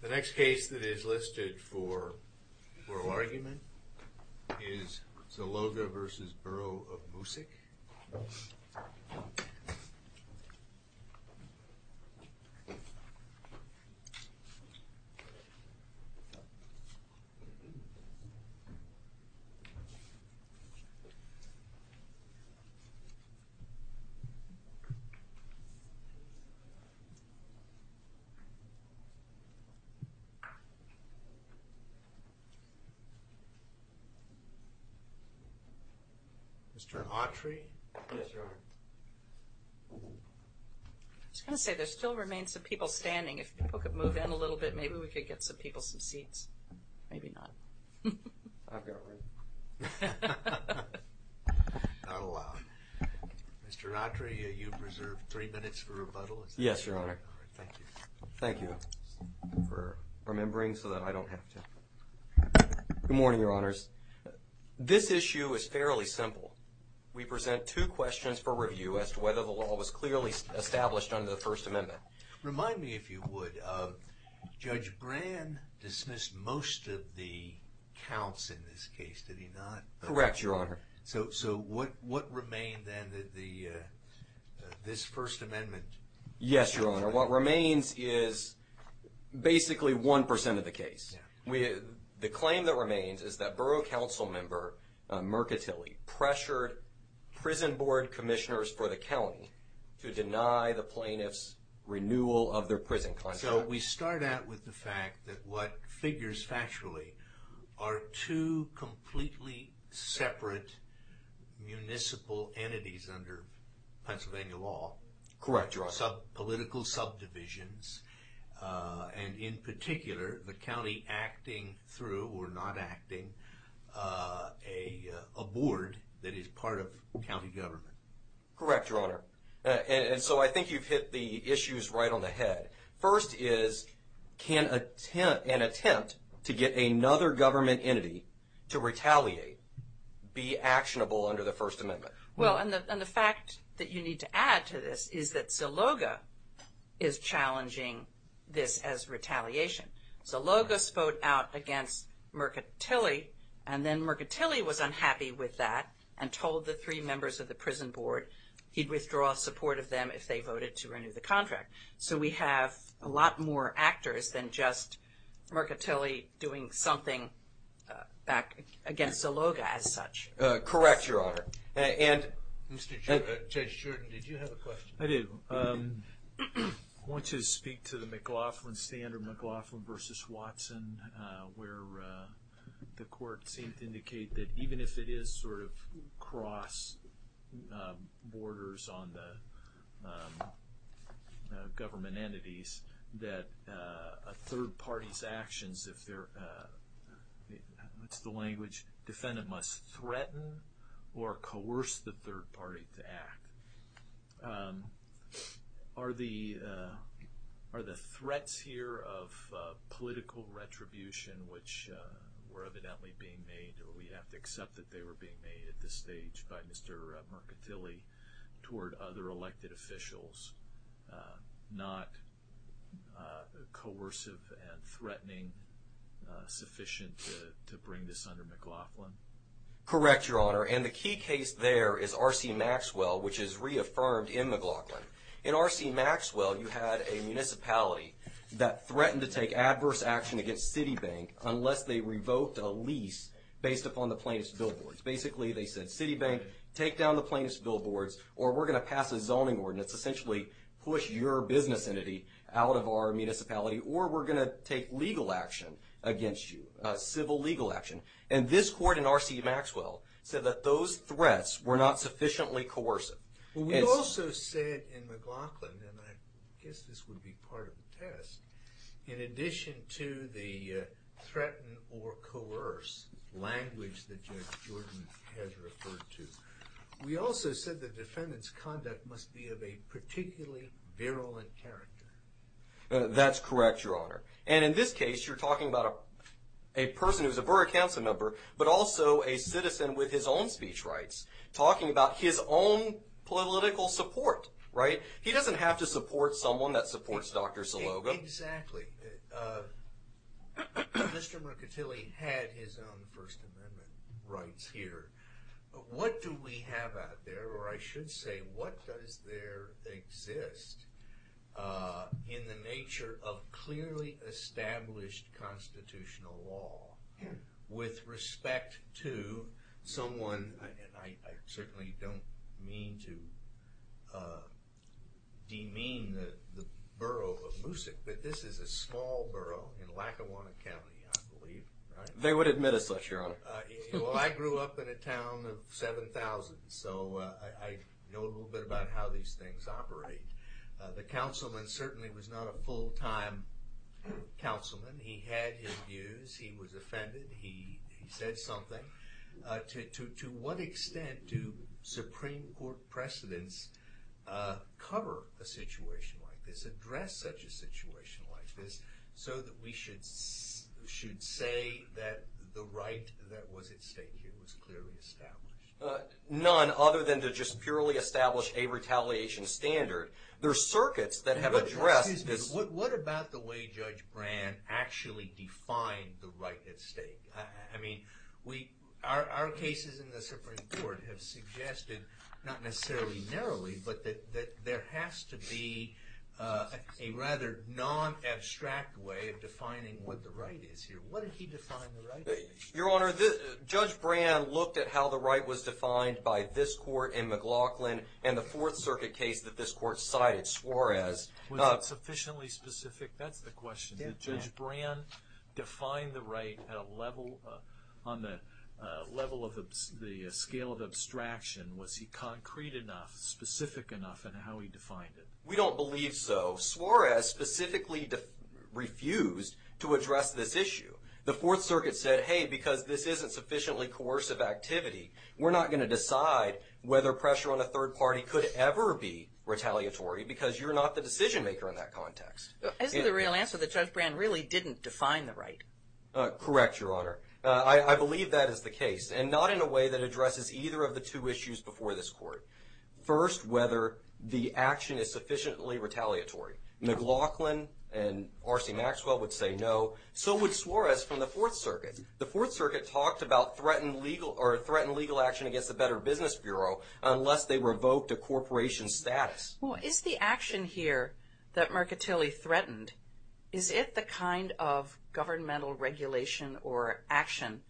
The next case that is listed for oral argument is Zaloga v. Borough of Moosic. Zaloga v. Borough of Moosic Good morning, Your Honors. This issue is fairly simple. We present two questions for review as to whether the law was clearly established under the First Amendment. Remind me, if you would, Judge Brand dismissed most of the counts in this case, did he not? Correct, Your Honor. So what remained then, this First Amendment? Yes, Your Honor. What remains is basically 1% of the case. The claim that remains is that borough council member Mercatilli pressured prison board commissioners for the county to deny the plaintiffs' renewal of their prison contract. So we start out with the fact that what figures factually are two completely separate municipal entities under Pennsylvania law. Correct, Your Honor. Political subdivisions, and in particular, the county acting through or not acting a board that is part of county government. Correct, Your Honor. And so I think you've hit the issues right on the head. First is, can an attempt to get another government entity to retaliate be actionable under the First Amendment? Well, and the fact that you need to add to this is that Zaloga is challenging this as retaliation. Zaloga spoke out against Mercatilli, and then Mercatilli was unhappy with that and told the three members of the prison board he'd withdraw support of them if they voted to renew the contract. So we have a lot more actors than just Mercatilli doing something back against Zaloga as such. Correct, Your Honor. Judge Sheridan, did you have a question? I do. I want to speak to the McLaughlin standard, McLaughlin v. Watson, where the court seemed to indicate that even if it is sort of cross borders on the government entities, that a third party's actions, if it's the language, defendant must threaten or coerce the third party to act. Are the threats here of political retribution, which were evidently being made, or we have to accept that they were being made at this stage by Mr. Mercatilli toward other elected officials, not coercive and threatening sufficient to bring this under McLaughlin? Correct, Your Honor, and the key case there is R.C. Maxwell, which is reaffirmed in McLaughlin. In R.C. Maxwell, you had a municipality that threatened to take adverse action against Citibank unless they revoked a lease based upon the plaintiff's billboards. Basically, they said, Citibank, take down the plaintiff's billboards, or we're going to pass a zoning ordinance, essentially push your business entity out of our municipality, or we're going to take legal action against you, civil legal action. And this court in R.C. Maxwell said that those threats were not sufficiently coercive. We also said in McLaughlin, and I guess this would be part of the test, in addition to the threaten or coerce language that Judge Jordan has referred to, we also said the defendant's conduct must be of a particularly virulent character. That's correct, Your Honor. And in this case, you're talking about a person who's a borough council member, but also a citizen with his own speech rights, talking about his own political support, right? He doesn't have to support someone that supports Dr. Salogo. Exactly. Mr. Mercatilli had his own First Amendment rights here. What do we have out there, or I should say, what does there exist in the nature of clearly established constitutional law with respect to someone, and I certainly don't mean to demean the borough of Moosic, but this is a small borough in Lackawanna County, I believe, right? They would admit us such, Your Honor. Well, I grew up in a town of 7,000, so I know a little bit about how these things operate. The councilman certainly was not a full-time councilman. He had his views. He was offended. He said something. To what extent do Supreme Court precedents cover a situation like this, address such a situation like this, so that we should say that the right that was at stake here was clearly established? None, other than to just purely establish a retaliation standard. There are circuits that have addressed this. What about the way Judge Brand actually defined the right at stake? I mean, our cases in the Supreme Court have suggested, not necessarily narrowly, but that there has to be a rather non-abstract way of defining what the right is here. What did he define the right as? Your Honor, Judge Brand looked at how the right was defined by this court in McLaughlin and the Fourth Circuit case that this court cited Suarez. Was it sufficiently specific? That's the question. Did Judge Brand define the right on the scale of abstraction? Was he concrete enough, specific enough in how he defined it? We don't believe so. Suarez specifically refused to address this issue. The Fourth Circuit said, hey, because this isn't sufficiently coercive activity, we're not going to decide whether pressure on a third party could ever be retaliatory because you're not the decision maker in that context. Isn't the real answer that Judge Brand really didn't define the right? Correct, Your Honor. I believe that is the case, and not in a way that addresses either of the two issues before this court. First, whether the action is sufficiently retaliatory. McLaughlin and R.C. Maxwell would say no. So would Suarez from the Fourth Circuit. The Fourth Circuit talked about threatened legal action against the Better Business Bureau unless they revoked a corporation's status. Is the action here that Mercatilli threatened, is it the kind of governmental regulation or action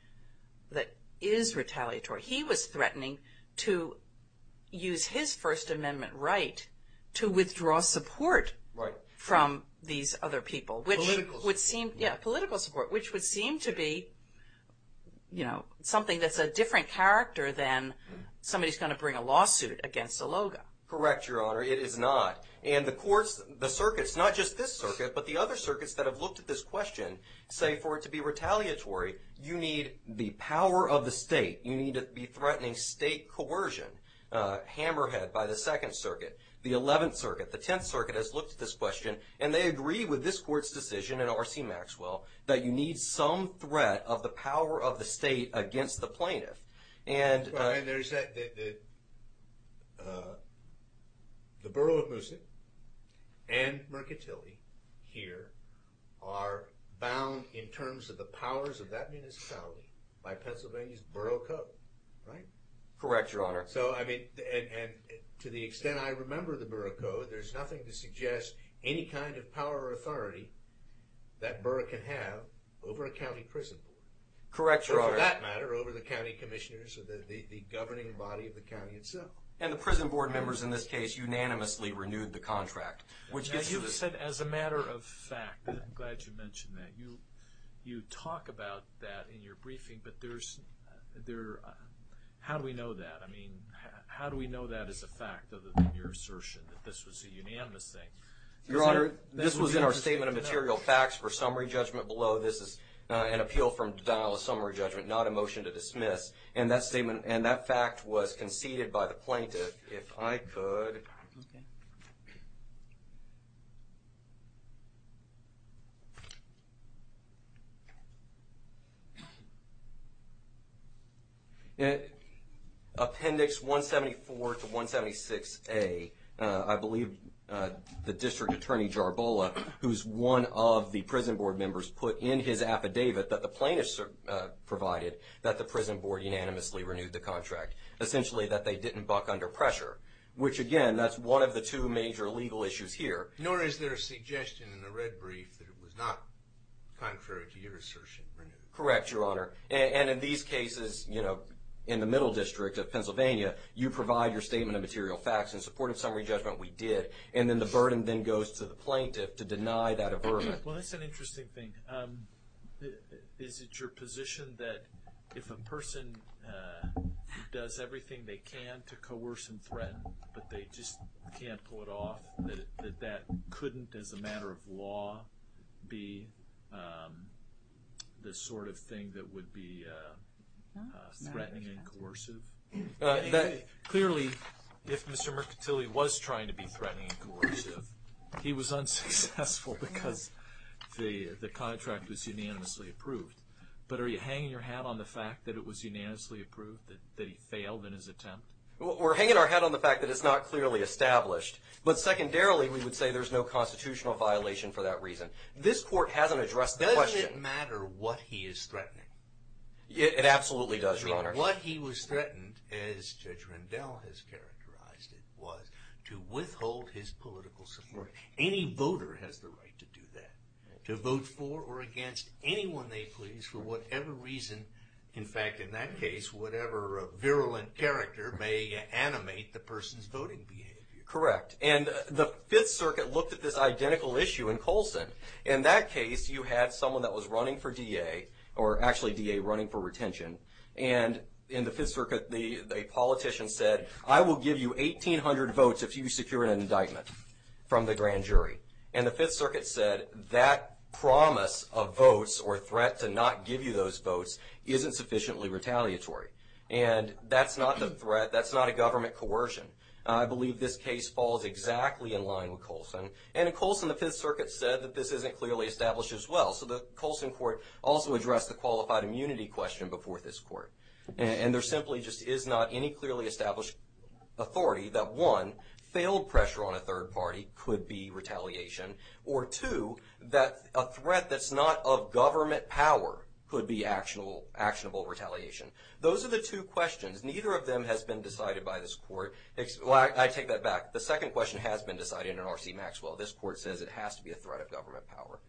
that is retaliatory? He was threatening to use his First Amendment right to withdraw support from these other people. Political support. Yeah, political support, which would seem to be, you know, something that's a different character than somebody's going to bring a lawsuit against a LOGA. Correct, Your Honor. It is not. And the courts, the circuits, not just this circuit, but the other circuits that have looked at this question say for it to be retaliatory, you need the power of the state. You need to be threatening state coercion, hammerhead by the Second Circuit, the Eleventh Circuit. The Tenth Circuit has looked at this question, and they agree with this court's decision and R.C. Maxwell that you need some threat of the power of the state against the plaintiff. And there's that, the borough of Mooson and Mercatilli here are bound in terms of the powers of that municipality by Pennsylvania's borough code, right? Correct, Your Honor. So, I mean, and to the extent I remember the borough code, there's nothing to suggest any kind of power or authority that borough can have over a county prison board. Correct, Your Honor. That matter over the county commissioners or the governing body of the county itself. And the prison board members in this case unanimously renewed the contract. As you said, as a matter of fact, I'm glad you mentioned that. You talk about that in your briefing, but there's, how do we know that? I mean, how do we know that is a fact other than your assertion that this was a unanimous thing? Your Honor, this was in our statement of material facts for summary judgment below. This is an appeal from Dallas summary judgment, not a motion to dismiss. And that statement and that fact was conceded by the plaintiff. If I could. Appendix 174 to 176A, I believe the District Attorney Jarbola, who's one of the prison board members, put in his affidavit that the plaintiffs provided that the prison board unanimously renewed the contract. Essentially that they didn't buck under pressure, which again, that's one of the two major legal issues here. Nor is there a suggestion in the red brief that it was not contrary to your assertion. Correct, Your Honor. And in these cases, you know, in the middle district of Pennsylvania, you provide your statement of material facts in support of summary judgment, we did. And then the burden then goes to the plaintiff to deny that a burden. Well, that's an interesting thing. Is it your position that if a person does everything they can to coerce and threaten, but they just can't pull it off, that that couldn't, as a matter of law, be the sort of thing that would be threatening and coercive? Clearly, if Mr. Mercantile was trying to be threatening and coercive, he was unsuccessful because the contract was unanimously approved. But are you hanging your hat on the fact that it was unanimously approved, that he failed in his attempt? We're hanging our hat on the fact that it's not clearly established. But secondarily, we would say there's no constitutional violation for that reason. This court hasn't addressed the question. It absolutely does, Your Honor. What he was threatened, as Judge Rendell has characterized it, was to withhold his political support. Any voter has the right to do that, to vote for or against anyone they please, for whatever reason, in fact, in that case, whatever virulent character may animate the person's voting behavior. Correct. And the Fifth Circuit looked at this identical issue in Colson. In that case, you had someone that was running for DA, or actually DA running for retention, and in the Fifth Circuit, a politician said, I will give you 1,800 votes if you secure an indictment from the grand jury. And the Fifth Circuit said that promise of votes, or threat to not give you those votes, isn't sufficiently retaliatory. And that's not a threat, that's not a government coercion. I believe this case falls exactly in line with Colson. And in Colson, the Fifth Circuit said that this isn't clearly established as well. So the Colson court also addressed the qualified immunity question before this court. And there simply just is not any clearly established authority that, one, failed pressure on a third party could be retaliation, or, two, that a threat that's not of government power could be actionable retaliation. Those are the two questions. Neither of them has been decided by this court. I take that back. The second question has been decided in R.C. Maxwell. This court says it has to be a threat of government power.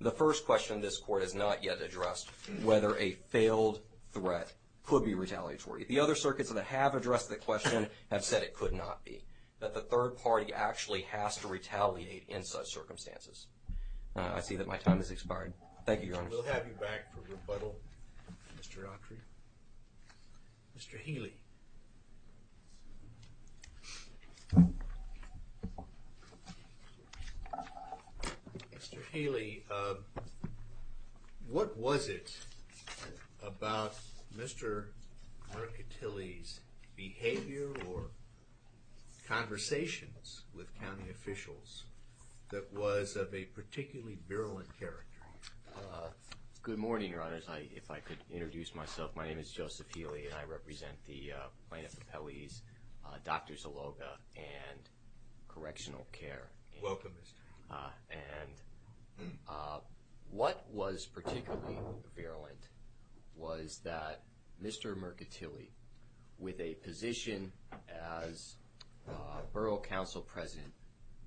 The first question this court has not yet addressed, whether a failed threat could be retaliatory. The other circuits that have addressed the question have said it could not be, that the third party actually has to retaliate in such circumstances. I see that my time has expired. Thank you, Your Honor. We'll have you back for rebuttal, Mr. Autry. Mr. Healy. Mr. Healy, what was it about Mr. Mercatilli's behavior or conversations with county officials that was of a particularly virulent character? Good morning, Your Honor, if I could introduce myself. My name is Joseph Healy, and I represent the Plaintiff Appellee's Doctors of Logo and Correctional Care. Welcome, Mr. Healy. And what was particularly virulent was that Mr. Mercatilli, with a position as Borough Council President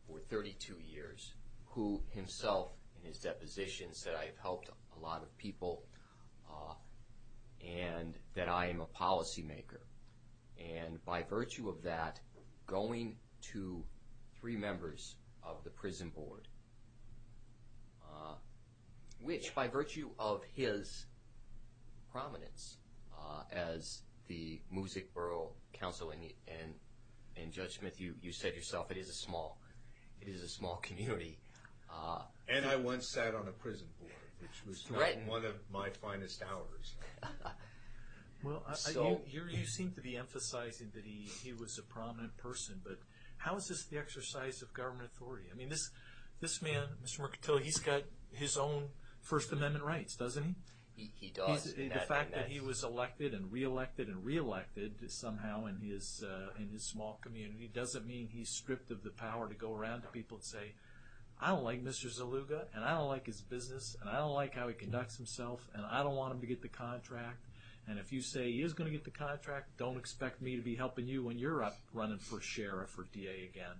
for 32 years, who himself in his deposition said, I've helped a lot of people and that I am a policymaker, and by virtue of that going to three members of the prison board, which by virtue of his prominence as the Music Borough Council, and Judge Smith, you said yourself it is a small community, and I once sat on a prison board, which was one of my finest hours. Well, you seem to be emphasizing that he was a prominent person, but how is this the exercise of government authority? I mean, this man, Mr. Mercatilli, he's got his own First Amendment rights, doesn't he? He does. The fact that he was elected and reelected and reelected somehow in his small community doesn't mean he's stripped of the power to go around to people and say, I don't like Mr. Zaluga, and I don't like his business, and I don't like how he conducts himself, and I don't want him to get the contract. And if you say he is going to get the contract, don't expect me to be helping you when you're up running for sheriff or DA again.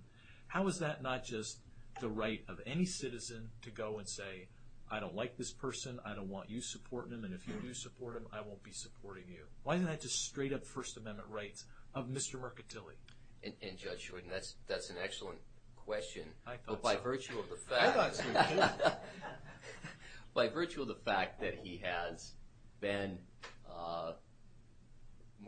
How is that not just the right of any citizen to go and say, I don't like this person, I don't want you supporting him, and if you do support him, I won't be supporting you? Why isn't that just straight-up First Amendment rights of Mr. Mercatilli? And Judge Shorten, that's an excellent question. I thought so. I thought so too. By virtue of the fact that he has been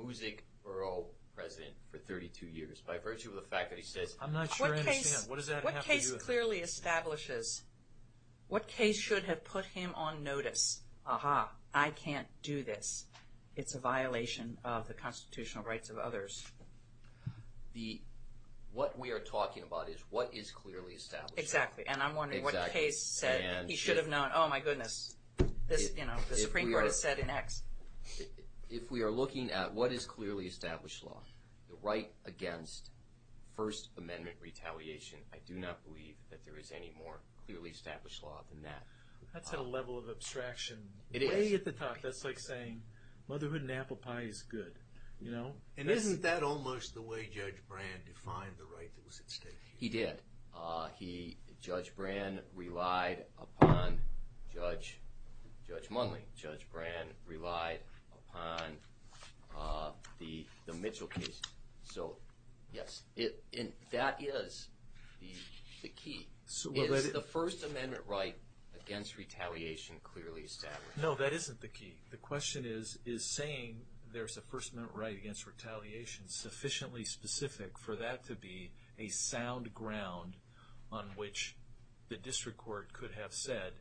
Music Borough President for 32 years, by virtue of the fact that he says, I'm not sure I understand. What does that have to do with it? What case clearly establishes, what case should have put him on notice, I can't do this. It's a violation of the constitutional rights of others. What we are talking about is what is clearly established. Exactly, and I'm wondering what case said he should have known, oh my goodness, the Supreme Court has said an X. If we are looking at what is clearly established law, the right against First Amendment retaliation, I do not believe that there is any more clearly established law than that. That's at a level of abstraction, way at the top. That's like saying, motherhood and apple pie is good. And isn't that almost the way Judge Brand defined the right that was at stake? He did. Judge Brand relied upon Judge Munley. Judge Brand relied upon the Mitchell case. So, yes, that is the key. Is the First Amendment right against retaliation clearly established? No, that isn't the key. The question is, is saying there's a First Amendment right against retaliation sufficiently specific for that to be a sound ground on which the district court could have said,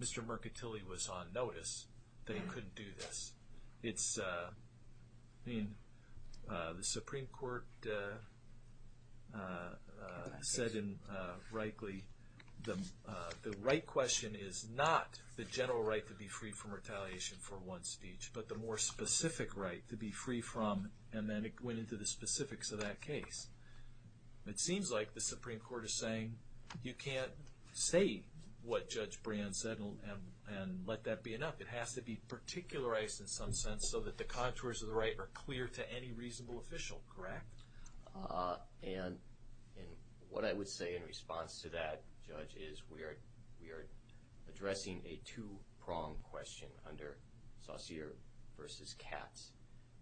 Mr. Mercatilli was on notice, that he couldn't do this. The Supreme Court said rightly, the right question is not the general right to be free from retaliation for one speech, but the more specific right to be free from, and then it went into the specifics of that case. It seems like the Supreme Court is saying, you can't say what Judge Brand said and let that be enough. It has to be particularized in some sense so that the contours of the right are clear to any reasonable official, correct? And what I would say in response to that, Judge, is we are addressing a two-pronged question under Saucere v. Katz.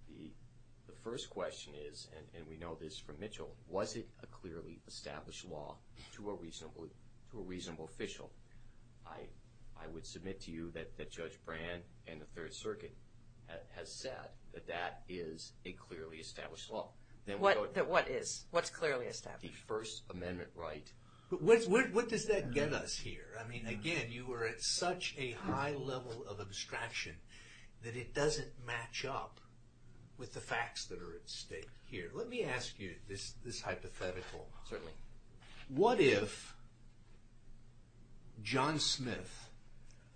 The first question is, and we know this from Mitchell, was it a clearly established law to a reasonable official? I would submit to you that Judge Brand and the Third Circuit has said that that is a clearly established law. What is? What's clearly established? The First Amendment right. What does that get us here? I mean, again, you are at such a high level of abstraction that it doesn't match up with the facts that are at stake here. Let me ask you this hypothetical. Certainly. What if John Smith,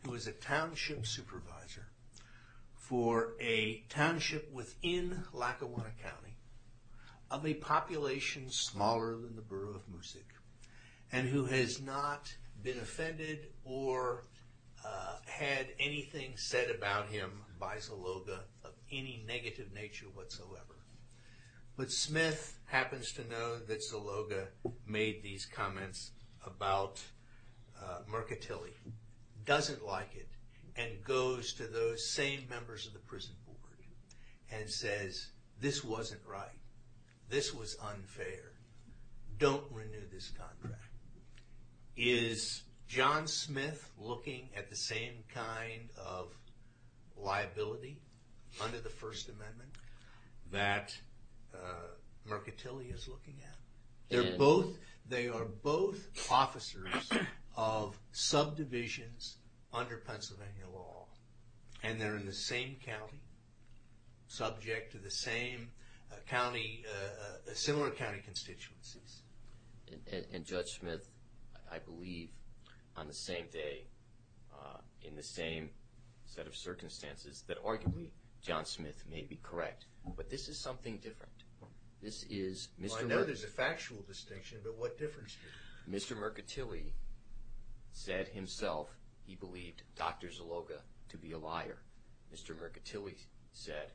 who is a township supervisor for a township within Lackawanna County, of a population smaller than the borough of Moosick, and who has not been offended or had anything said about him by Zaloga of any negative nature whatsoever, but Smith happens to know that Zaloga made these comments about Mercatilli, doesn't like it, and goes to those same members of the prison board and says, this wasn't right. This was unfair. Don't renew this contract. Is John Smith looking at the same kind of liability under the First Amendment that Mercatilli is looking at? They are both officers of subdivisions under Pennsylvania law, and they're in the same county, subject to the same county, similar county constituencies. And Judge Smith, I believe, on the same day, in the same set of circumstances, that arguably John Smith may be correct. But this is something different. Well, I know there's a factual distinction, but what difference does it make? Mr. Mercatilli said himself he believed Dr. Zaloga to be a liar. Mr. Mercatilli said,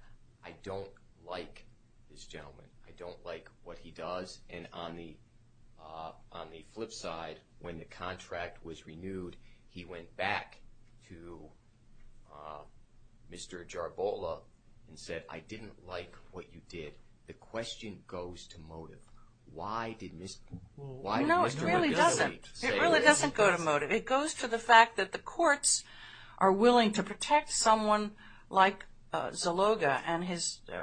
I don't like this gentleman. I don't like what he does. And on the flip side, when the contract was renewed, he went back to Mr. Jarbola and said, I didn't like what you did. The question goes to motive. Why did Mr. Mercatilli say what he did? No, it really doesn't. It really doesn't go to motive. It goes to the fact that the courts are willing to protect someone like Zaloga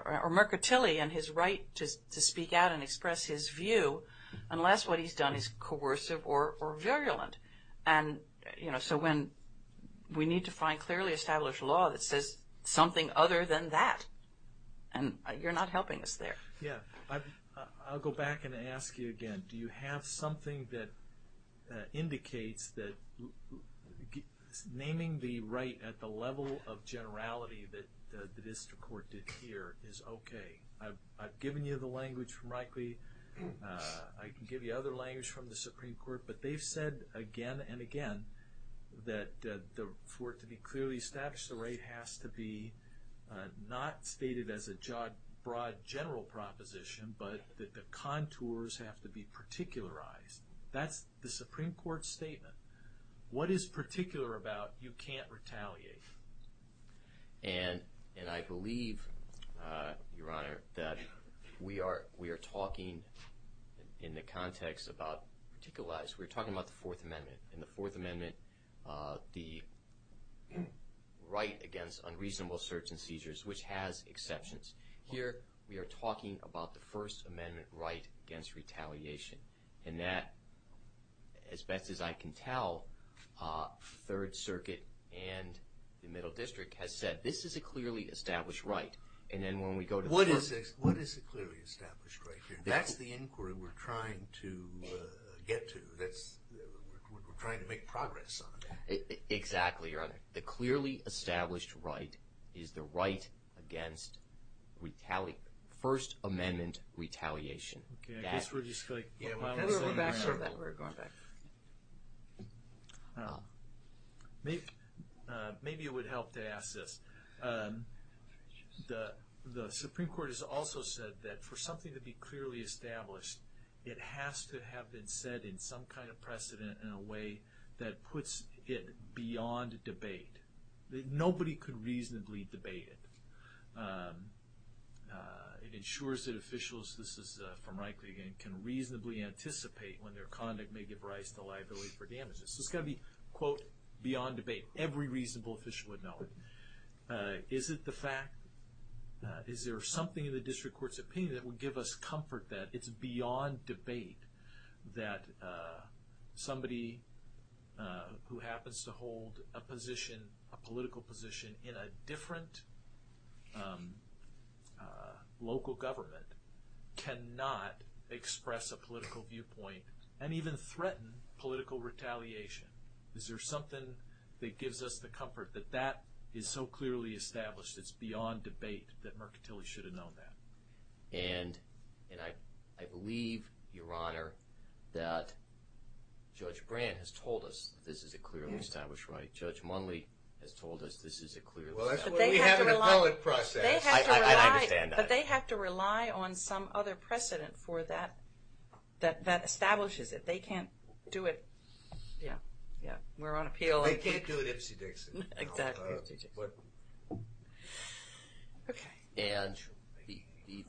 or Mercatilli and his right to speak out and express his view unless what he's done is coercive or virulent. And, you know, so when we need to find clearly established law that says something other than that, and you're not helping us there. Yeah. I'll go back and ask you again. Do you have something that indicates that naming the right at the level of generality that the district court did here is okay? I've given you the language from Reichle, I can give you other language from the Supreme Court, but they've said again and again that for it to be clearly established, the right has to be not stated as a broad general proposition, but that the contours have to be particularized. That's the Supreme Court statement. What is particular about you can't retaliate? And I believe, Your Honor, that we are talking in the context about particularized, we're talking about the Fourth Amendment. In the Fourth Amendment, the right against unreasonable search and seizures, which has exceptions. Here we are talking about the First Amendment right against retaliation. And that, as best as I can tell, Third Circuit and the Middle District has said this is a clearly established right. And then when we go to the Fourth Circuit. What is a clearly established right here? That's the inquiry we're trying to get to. We're trying to make progress on that. Exactly, Your Honor. The clearly established right is the right against First Amendment retaliation. Okay. I guess we're just going back to that. We're going back. Maybe it would help to ask this. The Supreme Court has also said that for something to be clearly established, it has to have been said in some kind of precedent in a way that puts it beyond debate. Nobody could reasonably debate it. It ensures that officials, this is from Reichle again, can reasonably anticipate when their conduct may give rise to liability for damages. So it's got to be, quote, beyond debate. Every reasonable official would know it. Is it the fact? Is there something in the district court's opinion that would give us comfort that it's beyond debate that somebody who happens to hold a position, a political position in a different local government, cannot express a political viewpoint and even threaten political retaliation? Is there something that gives us the comfort that that is so clearly established, it's beyond debate, that Mercantile should have known that? And I believe, Your Honor, that Judge Brand has told us this is a clearly established right. Judge Munley has told us this is a clearly established right. Well, that's why we have an appellate process. I understand that. But they have to rely on some other precedent for that that establishes it. They can't do it. Yeah, yeah. We're on appeal. They can't do it Ipsy Dixie. Exactly. Okay. And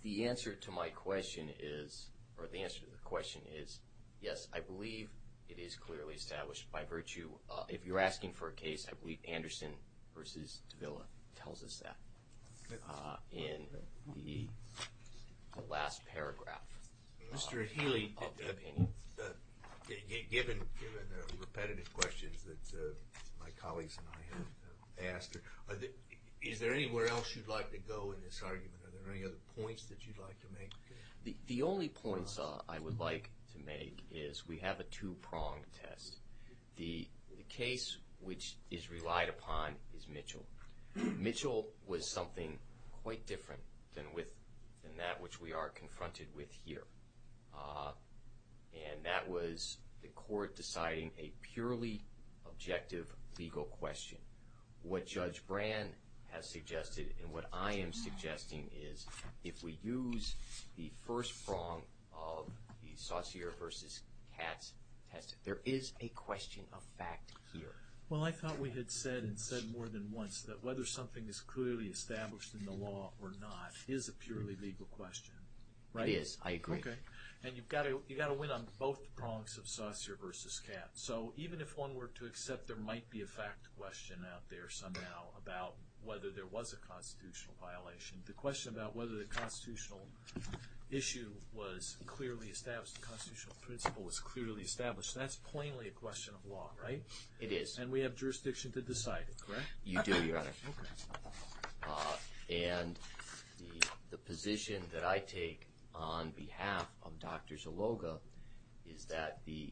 the answer to my question is, or the answer to the question is, yes, I believe it is clearly established by virtue. If you're asking for a case, I believe Anderson v. Davila tells us that in the last paragraph. Mr. Healy, given the repetitive questions that my colleagues and I have asked, is there anywhere else you'd like to go in this argument? Are there any other points that you'd like to make? The only points I would like to make is we have a two-pronged test. The case which is relied upon is Mitchell. Mitchell was something quite different than that which we are confronted with here. And that was the court deciding a purely objective legal question. What Judge Brand has suggested and what I am suggesting is, if we use the first prong of the Saussure v. Katz test, there is a question of fact here. Well, I thought we had said and said more than once that whether something is clearly established in the law or not is a purely legal question, right? It is. I agree. Okay. And you've got to win on both prongs of Saussure v. Katz. So even if one were to accept there might be a fact question out there somehow about whether there was a constitutional violation, the question about whether the constitutional issue was clearly established, the constitutional principle was clearly established, that's plainly a question of law, right? It is. And we have jurisdiction to decide it, correct? You do, Your Honor. Okay. And the position that I take on behalf of Dr. Zaloga is that the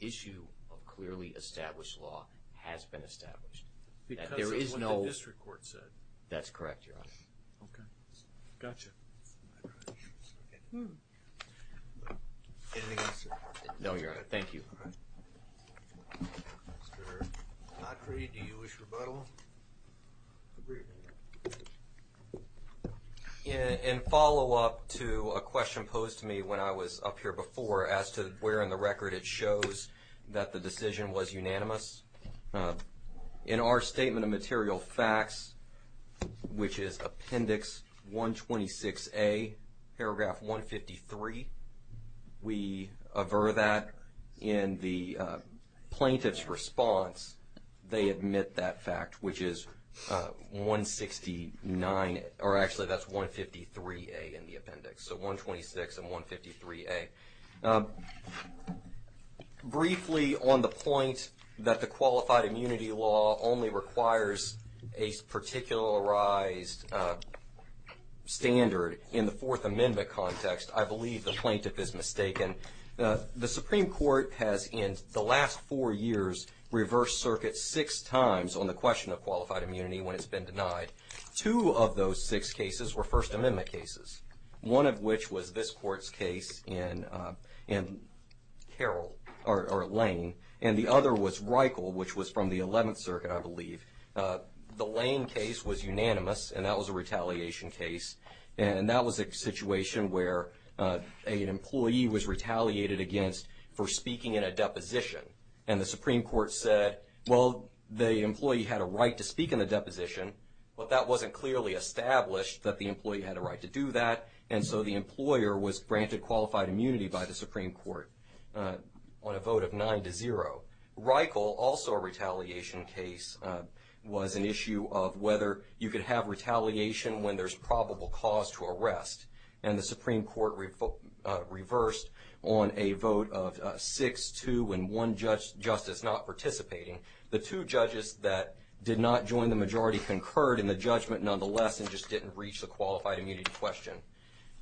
issue of clearly established law has been established. Because of what the district court said. That's correct, Your Honor. Okay. Gotcha. Anything else, sir? No, Your Honor. Thank you. Mr. Gottfried, do you wish rebuttal? In follow-up to a question posed to me when I was up here before as to where in the record it shows that the decision was unanimous, in our statement of material facts, which is Appendix 126A, Paragraph 153, we aver that in the plaintiff's response, they admit that fact, which is 169, or actually that's 153A in the appendix, so 126 and 153A. Briefly, on the point that the qualified immunity law only requires a particularized standard in the Fourth Amendment context, I believe the plaintiff is mistaken. The Supreme Court has, in the last four years, reversed circuit six times on the question of qualified immunity when it's been denied. Two of those six cases were First Amendment cases, one of which was this court's case in Carroll or Lane, and the other was Reichel, which was from the Eleventh Circuit, I believe. The Lane case was unanimous, and that was a retaliation case. And that was a situation where an employee was retaliated against for speaking in a deposition, and the Supreme Court said, well, the employee had a right to speak in the deposition, but that wasn't clearly established that the employee had a right to do that, and so the employer was granted qualified immunity by the Supreme Court on a vote of 9-0. Reichel, also a retaliation case, was an issue of whether you could have retaliation when there's probable cause to arrest, and the Supreme Court reversed on a vote of 6-2 when one justice not participating. The two judges that did not join the majority concurred in the judgment nonetheless and just didn't reach the qualified immunity question.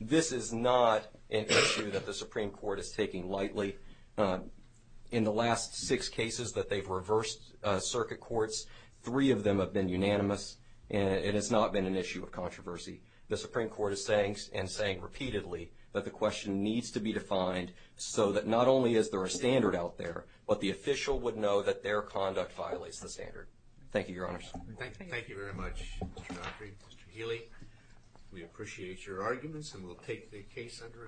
This is not an issue that the Supreme Court is taking lightly. In the last six cases that they've reversed circuit courts, three of them have been unanimous, and it has not been an issue of controversy. The Supreme Court is saying, and saying repeatedly, that the question needs to be defined so that not only is there a standard out there, but the official would know that their conduct violates the standard. Thank you, Your Honors. Thank you very much, Mr. Godfrey. Mr. Healy, we appreciate your arguments, and we'll take the case under advisory.